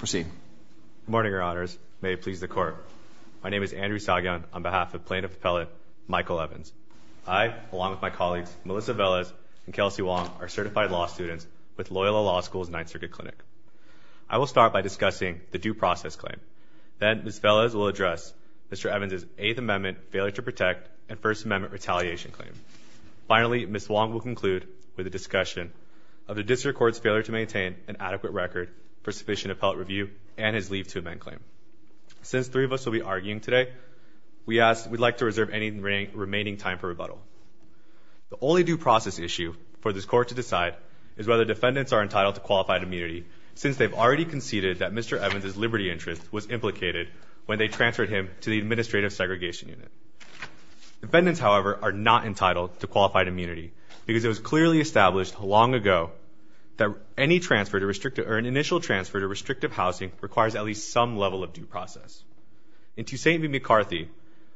Good morning, Your Honors. May it please the Court. My name is Andrew Sagian on behalf of Plaintiff Appellate Michael Evans. I, along with my colleagues Melissa Velez and Kelsey Wong are certified law students with Loyola Law School's Ninth Circuit Clinic. I will start by discussing the due process claim. Then, Ms. Velez will address Mr. Evans' Eighth Amendment failure to protect and First Amendment retaliation claim. Finally, Ms. Wong will conclude with a discussion of the District Court's failure to maintain an adequate record for sufficient appellate review and his leave to amend claim. Since three of us will be arguing today, we'd like to reserve any remaining time for rebuttal. The only due process issue for this Court to decide is whether defendants are entitled to qualified immunity, since they've already conceded that Mr. Evans' liberty interest was implicated when they transferred him to the Administrative Segregation Unit. Defendants, however, are not entitled to qualified immunity because it was clearly established long ago that any transfer, or an initial transfer, to restrictive housing requires at least some level of due process. In Tusain v. McCarthy,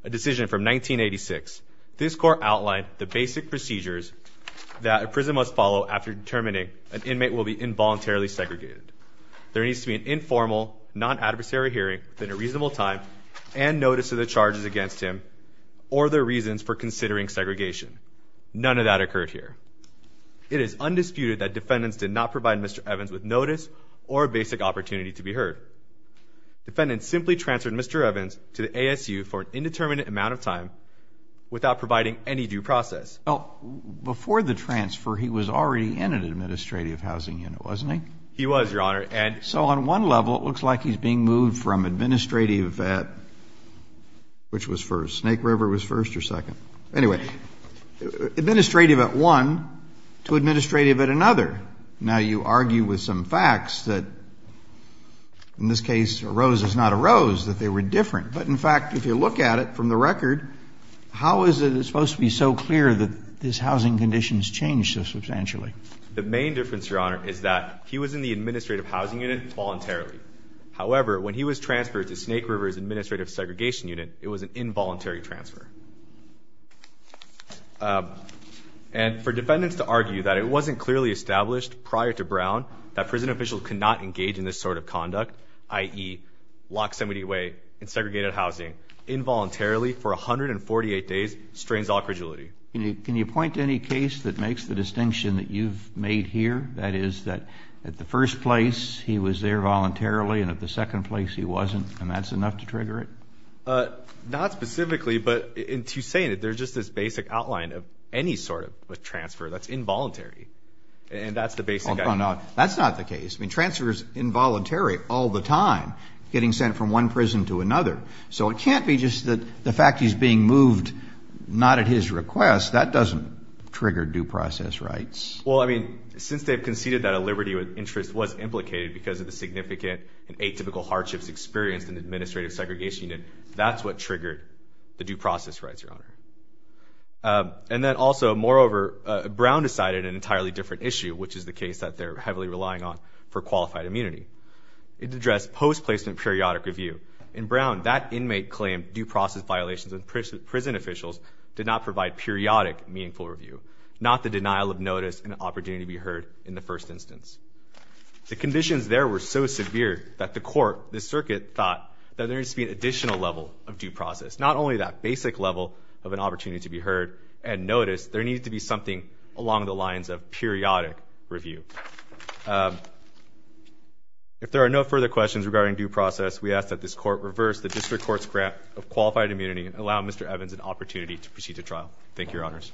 a decision from 1986, this Court outlined the basic procedures that a prison must follow after determining an inmate will be involuntarily segregated. There needs to be an informal, non-adversary hearing within a reasonable time and notice of the charges against him or their reasons for considering segregation. None of that occurred here. It is undisputed that defendants did not provide Mr. Evans with notice or a basic opportunity to be heard. Defendants simply transferred Mr. Evans to the ASU for an indeterminate amount of time without providing any due process. Well, before the transfer, he was already in an Administrative Housing Unit, wasn't he? He was, Your Honor, and So on one level, it looks like he's being moved from Administrative at, which was first, Snake River was first or second? Anyway, Administrative at one to Administrative at another. Now, you argue with some facts that, in this case, a rose is not a rose, that they were different. But in fact, if you look at it from the record, how is it supposed to be so clear that this housing condition has changed so substantially? The main difference, Your Honor, is that he was in the Administrative Housing Unit voluntarily. However, when he was transferred to Snake River's Administrative Segregation Unit, it was an involuntary transfer. And for defendants to argue that it wasn't clearly established prior to Brown that prison officials could not engage in this sort of conduct, i.e. lock somebody away in segregated housing involuntarily for 148 days strains all credulity. Can you point to any case that makes the distinction that you've made here? That is, that at the first place, he was there voluntarily, and at the second place, he wasn't, and that's enough to trigger it? Not specifically, but to say that there's just this basic outline of any sort of transfer that's involuntary. And that's the basic idea. That's not the case. I mean, transfer is involuntary all the time, getting sent from one prison to another. So it can't be just the fact he's being moved not at his request. That doesn't trigger due process rights. Well, I mean, since they've conceded that a liberty of interest was implicated because of the significant and atypical hardships experienced in the Administrative Segregation Unit, that's what triggered the due process rights, Your Honor. And then also, moreover, Brown decided an entirely different issue, which is the case that they're heavily relying on for qualified immunity. It addressed post-placement periodic review. In Brown, that inmate claimed due process violations of prison officials did not provide periodic meaningful review, not the denial of notice and opportunity to be heard in the first instance. The conditions there were so severe that the court, the circuit, thought that there needed to be an additional level of due process, not only that basic level of an opportunity to be heard and noticed. There needed to be something along the lines of periodic review. If there are no further questions regarding due process, we ask that this court reverse the district court's grant of qualified immunity and allow Mr. Evans an opportunity to proceed to trial. Thank you, Your Honors.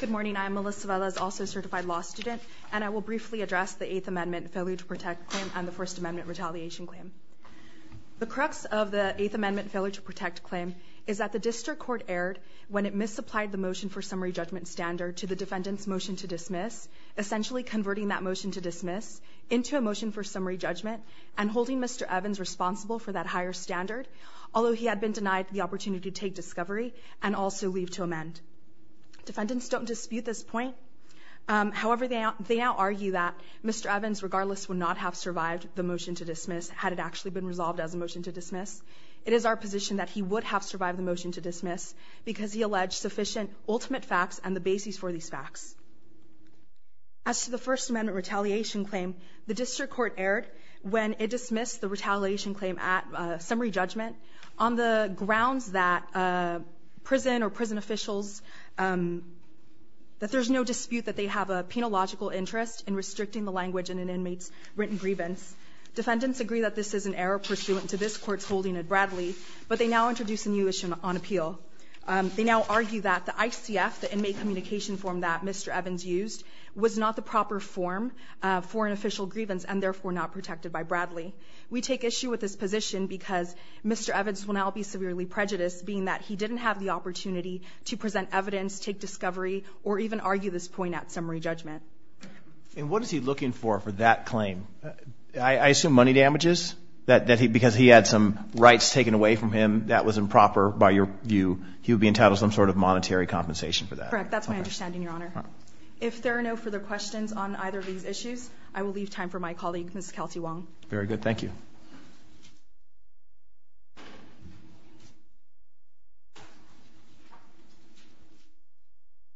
Good morning. I am Melissa Velez, also a certified law student, and I will briefly address the Eighth Amendment failure to protect claim and the First Amendment retaliation claim. The crux of the Eighth Amendment failure to protect claim is that the district court erred when it misapplied the motion for summary judgment standard to the defendant's motion to dismiss, essentially converting that motion to dismiss into a motion for summary judgment and holding Mr. Evans responsible for that higher standard, although he had been denied the opportunity to take discovery and also leave to amend. Defendants don't dispute this point. However, they now argue that Mr. Evans, regardless, would not have survived the motion to dismiss had it actually been resolved as a motion to dismiss. It is our position that he would have survived the motion to dismiss because he alleged sufficient ultimate facts and the basis for these facts. As to the First Amendment retaliation claim, the district court erred when it dismissed the retaliation claim at summary judgment on the issue. Defendants don't dispute that they have a penological interest in restricting the language in an inmate's written grievance. Defendants agree that this is an error pursuant to this court's holding of Bradley, but they now introduce a new issue on appeal. They now argue that the ICF, the inmate communication form that Mr. Evans used, was not the proper form for an official grievance and, therefore, not protected by Bradley. We take issue with this position because Mr. Evans will now be severely prejudiced, being that he didn't have the opportunity to present And what is he looking for for that claim? I assume money damages, because he had some rights taken away from him that was improper by your view. He would be entitled to some sort of monetary compensation for that. Correct. That's my understanding, Your Honor. If there are no further questions on either of these issues, I will leave time for my colleague, Ms. Kelsey Wong. Very good. Thank you.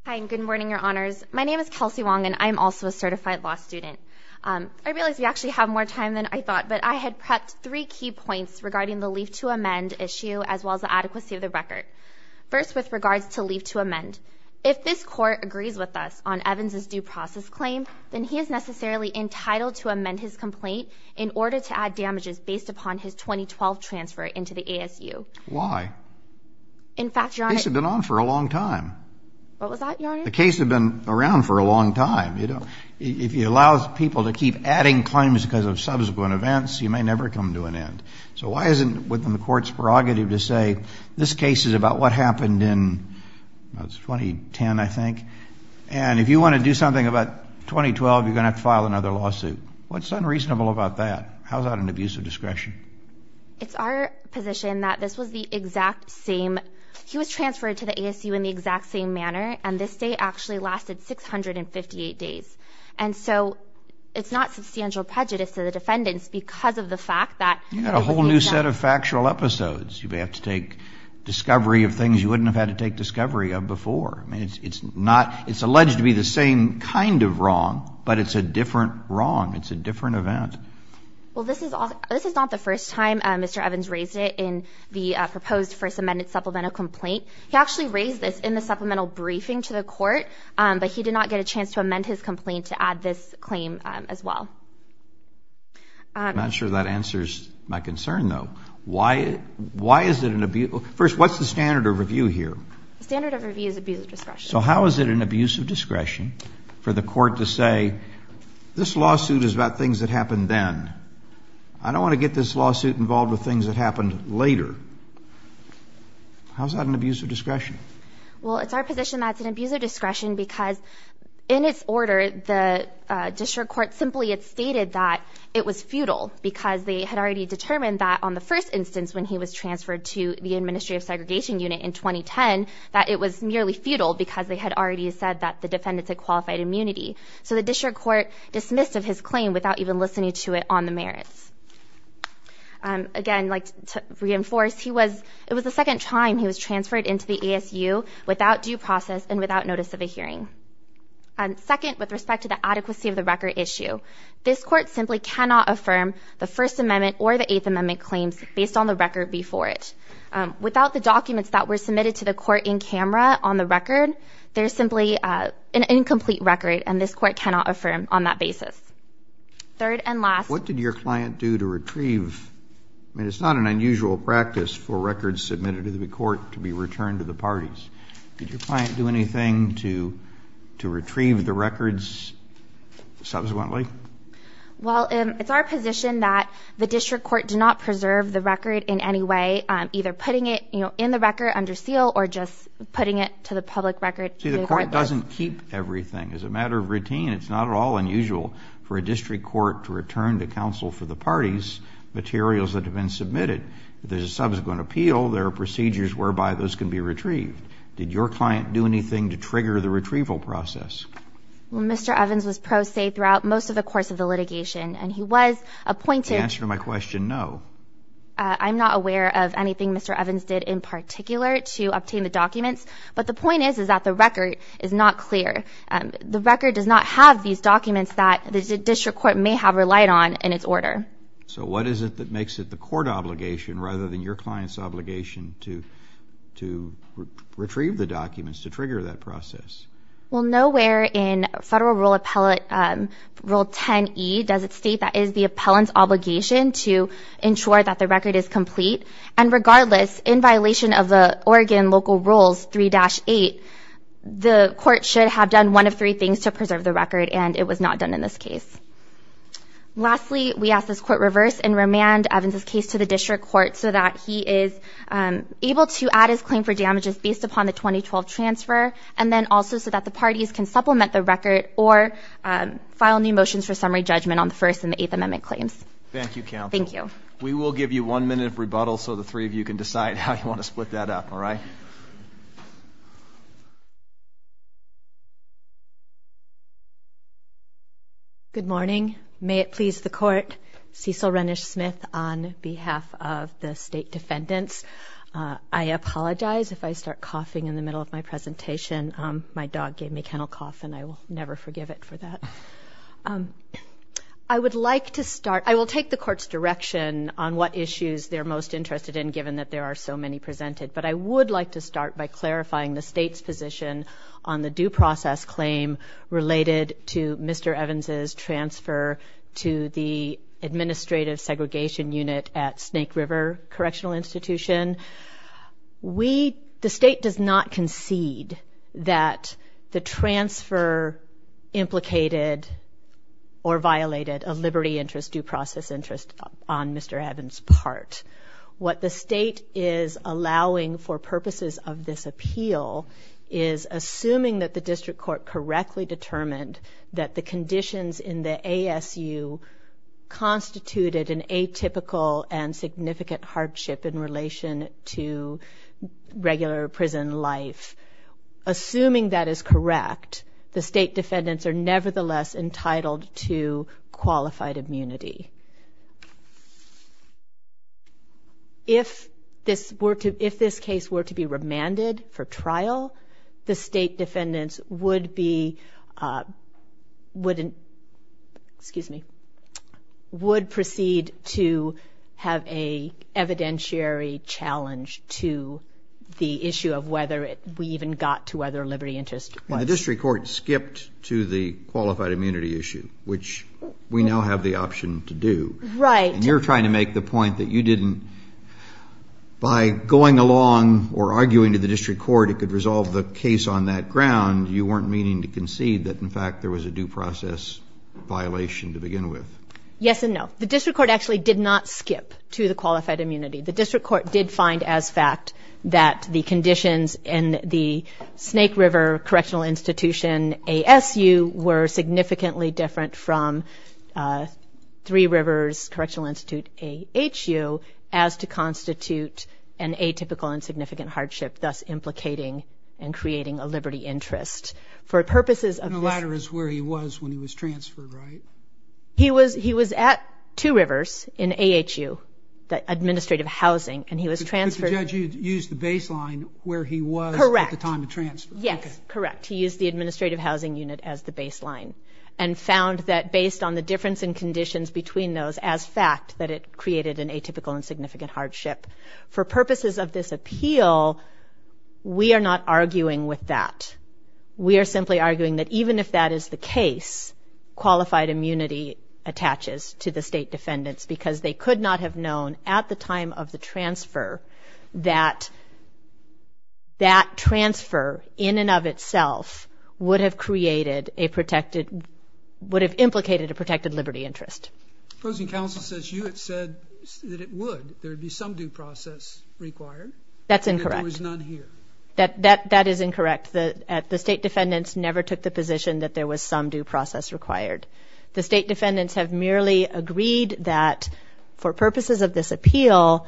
Hi, and good morning, Your Honors. My name is Kelsey Wong, and I am also a certified law student. I realize we actually have more time than I thought, but I had prepped three key points regarding the leave to amend issue, as well as the adequacy of the record. First, with regards to leave to amend, if this court agrees with us on Evans' due process claim, then he is necessarily entitled to amend his complaint in order to add damages based upon his 2012 transfer into the ASU. Why? In fact, Your Honor. This has been on for a long time. What was that, Your Honor? The case has been around for a long time. If you allow people to keep adding claims because of subsequent events, you may never come to an end. So why isn't within the court's prerogative to say, this case is about what happened in 2010, I think. And if you want to do something about 2012, you're going to have to file another lawsuit. What's unreasonable about that? How is that an abuse of discretion? It's our position that this was the exact same. He was transferred to the ASU in the exact same manner, and this stay actually lasted 658 days. And so it's not substantial prejudice to the defendants because of the fact that they had a new set of factual episodes. You may have to take discovery of things you wouldn't have had to take discovery of before. I mean, it's not, it's alleged to be the same kind of wrong, but it's a different wrong. It's a different event. Well, this is not the first time Mr. Evans raised it in the proposed first amended supplemental complaint. He actually raised this in the supplemental briefing to the court, but he did not get a chance to amend his complaint to add this claim as well. I'm not sure that answers my concern, though. Why is it an abuse? First, what's the standard of review here? The standard of review is abuse of discretion. So how is it an abuse of discretion for the court to say, this lawsuit is about things that happened then. I don't want to get this lawsuit involved with things that happened later. How is that an abuse of discretion? Well, it's our position that it's an abuse of discretion because in its order, the district court simply had stated that it was futile because they had already determined that on the first instance when he was transferred to the Administrative Segregation Unit in 2010, that it was merely futile because they had already said that the defendants had qualified immunity. So the district court dismissed of his claim without even listening to it on the merits. Again, to reinforce, it was the second time he was transferred into the ASU without due process and without notice of a hearing. Second, with respect to the adequacy of the record issue, this court simply cannot affirm the First Amendment or the Eighth Amendment claims based on the record before it. Without the documents that were submitted to the court in camera on the record, there's simply an incomplete record and this court cannot affirm on that basis. Third and last. What did your client do to retrieve? I mean, it's not an unusual practice for records submitted to the court to be returned to the parties. Did your client do anything to retrieve the records subsequently? Well, it's our position that the district court did not preserve the record in any way, either putting it in the record under seal or just putting it to the public record. See, the court doesn't keep everything. It's a matter of routine. It's not at all unusual for a district court to return to counsel for the parties materials that have been submitted. If there's a subsequent appeal, there are procedures whereby those can be retrieved. Did your client do anything to trigger the retrieval process? Well, Mr. Evans was pro se throughout most of the course of the litigation, and he was appointed. The answer to my question, no. I'm not aware of anything Mr. Evans did in particular to obtain the documents, but the point is is that the record is not clear. The record does not have these documents that the district court may have relied on in its order. So what is it that makes it the court obligation rather than your client's obligation to retrieve the documents to trigger that process? Well, nowhere in Federal Rule 10E does it state that it is the appellant's obligation to ensure that the record is complete, and regardless, in violation of the Oregon local rules 3-8, the court should have done one of three things to preserve the record, and it was not done in this case. Lastly, we ask this court reverse and remand Evans's case to the district court so that he is able to add his claim for damages based upon the 2012 transfer, and then also so that the parties can supplement the record or file new motions for summary judgment on the First and the Eighth Amendment claims. Thank you, counsel. Thank you. We will give you one minute of rebuttal so the three of you can decide how you want to split that up, all right? All right. Good morning. May it please the court. Cecil Rennish-Smith on behalf of the state defendants. I apologize if I start coughing in the middle of my presentation. My dog gave me kennel cough, and I will never forgive it for that. I would like to start. I will take the court's direction on what issues they're most interested in given that there are so many presented, but I would like to start by clarifying the state's position on the due process claim related to Mr. Evans's transfer to the administrative segregation unit at Snake River Correctional Institution. The state does not concede that the transfer implicated or violated a liberty interest, due process interest on Mr. Evans's part. What the state is allowing for purposes of this appeal is assuming that the district court correctly determined that the conditions in the ASU constituted an atypical and significant hardship in relation to regular prison life. Assuming that is correct, the state defendants are nevertheless entitled to qualified immunity. If this case were to be remanded for trial, the state defendants would proceed to have an evidentiary challenge to the issue of whether we even got to whether a liberty interest was. The district court skipped to the qualified immunity issue, which we now have the option to do. Right. And you're trying to make the point that you didn't, by going along or arguing to the district court it could resolve the case on that ground, you weren't meaning to concede that, in fact, there was a due process violation to begin with. Yes and no. The district court actually did not skip to the qualified immunity. The district court did find as fact that the conditions in the Snake River Correctional Institution, ASU, were significantly different from Three Rivers Correctional Institute, AHU, as to constitute an atypical and significant hardship, thus implicating and creating a liberty interest. And the latter is where he was when he was transferred, right? He was at Two Rivers in AHU, the administrative housing, and he was transferred. But the judge used the baseline where he was at the time of transfer. Correct. Yes, correct. He used the administrative housing unit as the baseline and found that based on the difference in conditions between those as fact that it created an atypical and significant hardship. For purposes of this appeal, we are not arguing with that. We are simply arguing that even if that is the case, qualified immunity attaches to the state defendants because they could not have known at the time of the transfer that that transfer in and of itself would have created a protected, would have implicated a protected liberty interest. The opposing counsel says you had said that it would. There would be some due process required. That's incorrect. And there was none here. That is incorrect. The state defendants never took the position that there was some due process required. The state defendants have merely agreed that for purposes of this appeal,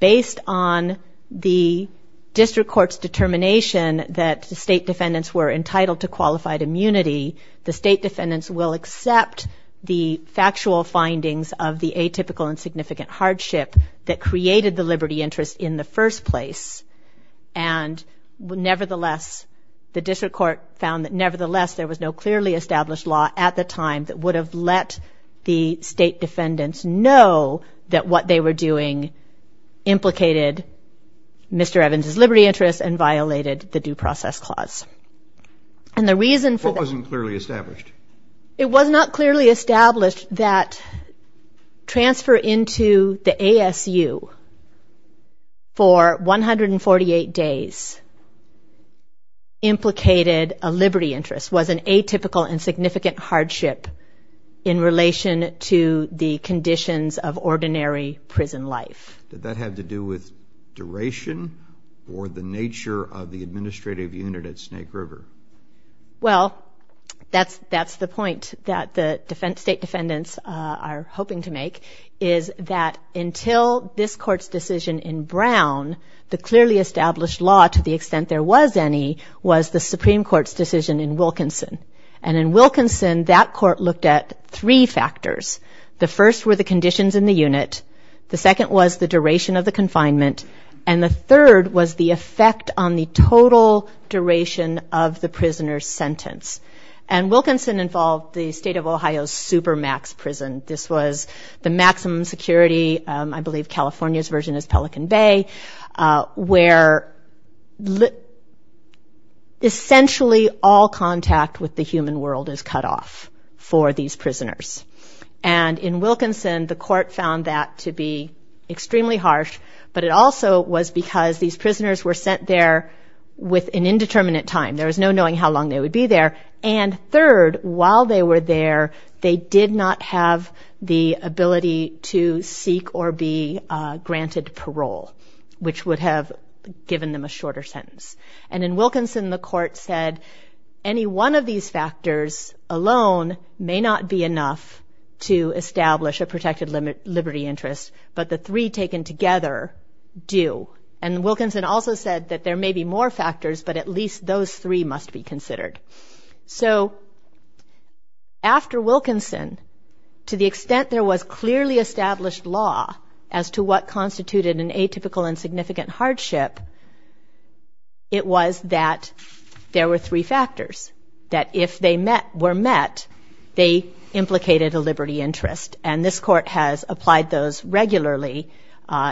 based on the district court's determination that the state defendants were entitled to qualified immunity, the state defendants will accept the factual findings of the atypical and significant hardship that created the liberty interest in the first place and nevertheless, the district court found that nevertheless, there was no clearly established law at the time that would have let the state defendants know that what they were doing implicated Mr. Evans' liberty interest and violated the due process clause. And the reason for that... What wasn't clearly established? It was not clearly established that transfer into the ASU for 148 days implicated a liberty interest, was an atypical and significant hardship in relation to the conditions of ordinary prison life. Did that have to do with duration or the nature of the administrative unit at Snake River? Well, that's the point that the state defendants are hoping to make is that until this court's decision in Brown, the clearly established law to the extent there was any was the Supreme Court's decision in Wilkinson. And in Wilkinson, that court looked at three factors. The first were the conditions in the unit. The second was the duration of the confinement. And the third was the effect on the total duration of the prisoner's sentence. And Wilkinson involved the state of Ohio's Supermax prison. This was the maximum security, I believe California's version is Pelican Bay, where essentially all contact with the human world is cut off for these prisoners. And in Wilkinson, the court found that to be extremely harsh, but it also was because these prisoners were sent there with an indeterminate time. There was no knowing how long they would be there. And third, while they were there, they did not have the ability to seek or be granted parole, which would have given them a shorter sentence. And in Wilkinson, the court said any one of these factors alone may not be enough to establish a protected liberty interest, but the three taken together do. And Wilkinson also said that there may be more factors, but at least those three must be considered. So after Wilkinson, to the extent there was clearly established law as to what constituted an atypical and significant hardship, it was that there were three factors, that if they were met, they implicated a liberty interest. And this court has applied those regularly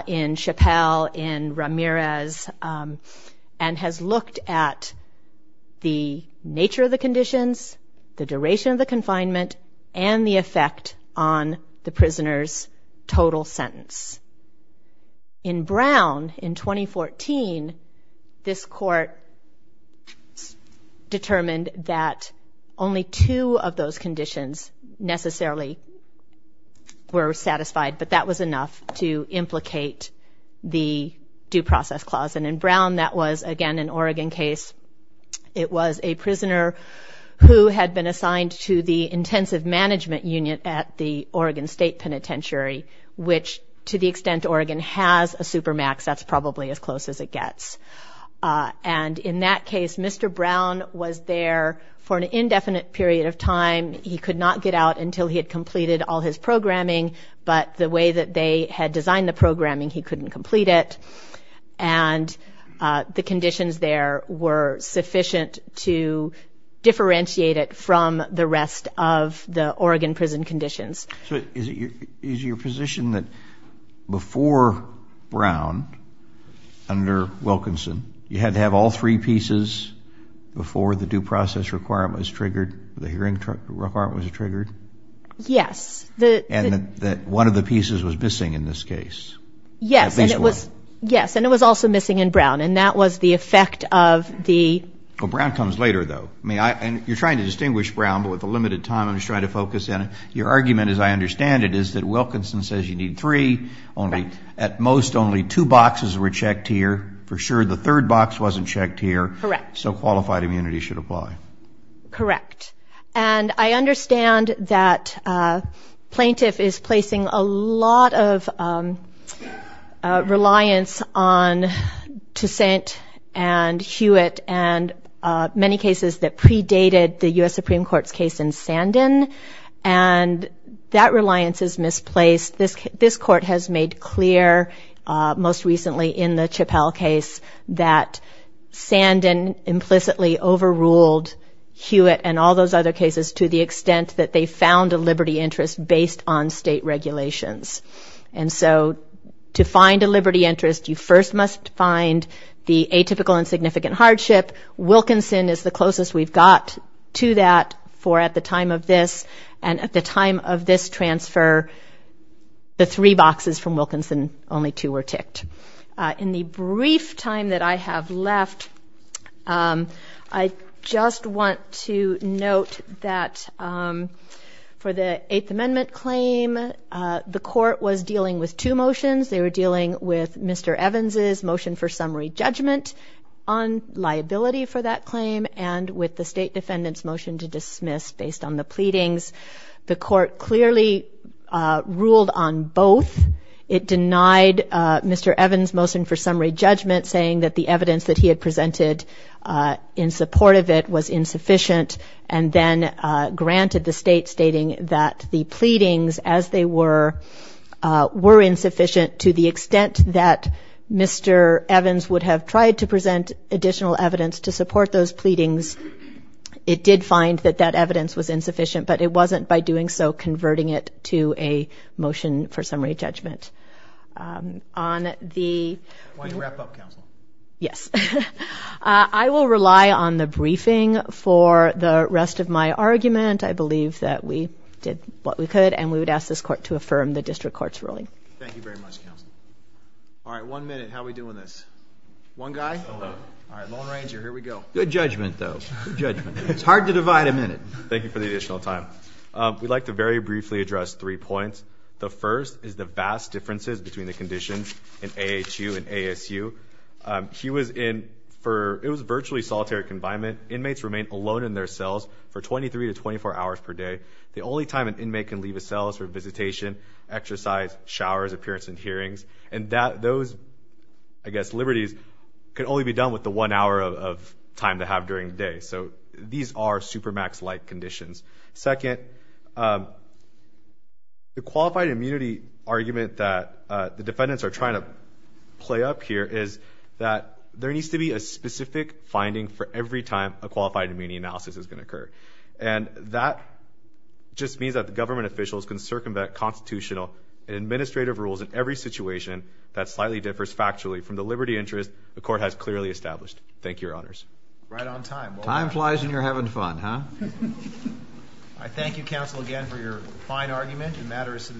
in Chappelle, in Ramirez, and has looked at the nature of the conditions, the duration of the confinement, and the effect on the prisoner's total sentence. In Brown, in 2014, this court determined that only two of those conditions necessarily were satisfied, but that was enough to implicate the due process clause. And in Brown, that was, again, an Oregon case. It was a prisoner who had been assigned to the intensive management union at the Oregon State Penitentiary, which, to the extent Oregon has a supermax, that's probably as close as it gets. And in that case, Mr. Brown was there for an indefinite period of time. He could not get out until he had completed all his programming, but the way that they had designed the programming, he couldn't complete it. And the conditions there were sufficient to differentiate it from the rest of the Oregon prison conditions. So is it your position that before Brown, under Wilkinson, you had to have all three pieces before the due process requirement was triggered, the hearing requirement was triggered? Yes. And that one of the pieces was missing in this case? Yes. At least one. Yes, and it was also missing in Brown, and that was the effect of the... Well, Brown comes later, though. I mean, you're trying to distinguish Brown, but with the limited time I'm just trying to focus in. Your argument, as I understand it, is that Wilkinson says you need three. At most, only two boxes were checked here. For sure, the third box wasn't checked here. Correct. So qualified immunity should apply. Correct. And I understand that Plaintiff is placing a lot of reliance on Toussaint and Hewitt and many cases that predated the U.S. Supreme Court's case in Sandin, and that reliance is misplaced. This court has made clear, most recently in the Chappelle case, that Sandin implicitly overruled Hewitt and all those other cases to the extent that they found a liberty interest based on state regulations. And so to find a liberty interest, you first must find the atypical insignificant hardship. Wilkinson is the closest we've got to that for at the time of this, and at the time of this transfer, the three boxes from Wilkinson, only two were ticked. In the brief time that I have left, I just want to note that for the Eighth Amendment claim, the court was dealing with two motions. They were dealing with Mr. Evans' motion for summary judgment on liability for that claim and with the State Defendant's motion to dismiss based on the pleadings. The court clearly ruled on both. It denied Mr. Evans' motion for summary judgment, saying that the evidence that he had presented in support of it was insufficient, and then granted the State, stating that the pleadings, as they were, were insufficient to the extent that Mr. Evans would have tried to present additional evidence to support those pleadings. It did find that that evidence was insufficient, but it wasn't by doing so converting it to a motion for summary judgment. I want to wrap up, Counsel. Yes. I will rely on the briefing for the rest of my argument. I believe that we did what we could, and we would ask this court to affirm the district court's ruling. Thank you very much, Counsel. All right, one minute. How are we doing this? One guy? All right, Lone Ranger, here we go. Good judgment, though. Good judgment. It's hard to divide a minute. Thank you for the additional time. We'd like to very briefly address three points. The first is the vast differences between the conditions in AHU and ASU. He was in virtually solitary confinement. Inmates remain alone in their cells for 23 to 24 hours per day. The only time an inmate can leave a cell is for visitation, exercise, showers, appearance, and hearings, and those, I guess, liberties can only be done with the one hour of time they have during the day. So these are Supermax-like conditions. Second, the qualified immunity argument that the defendants are trying to play up here is that there needs to be a specific finding for every time a qualified immunity analysis is going to occur. And that just means that the government officials can circumvent constitutional and administrative rules in every situation that slightly differs factually from the liberty interest the court has clearly established. Thank you, Your Honors. Right on time. Time flies when you're having fun, huh? I thank you, counsel, again for your fine argument. The matter is submitted.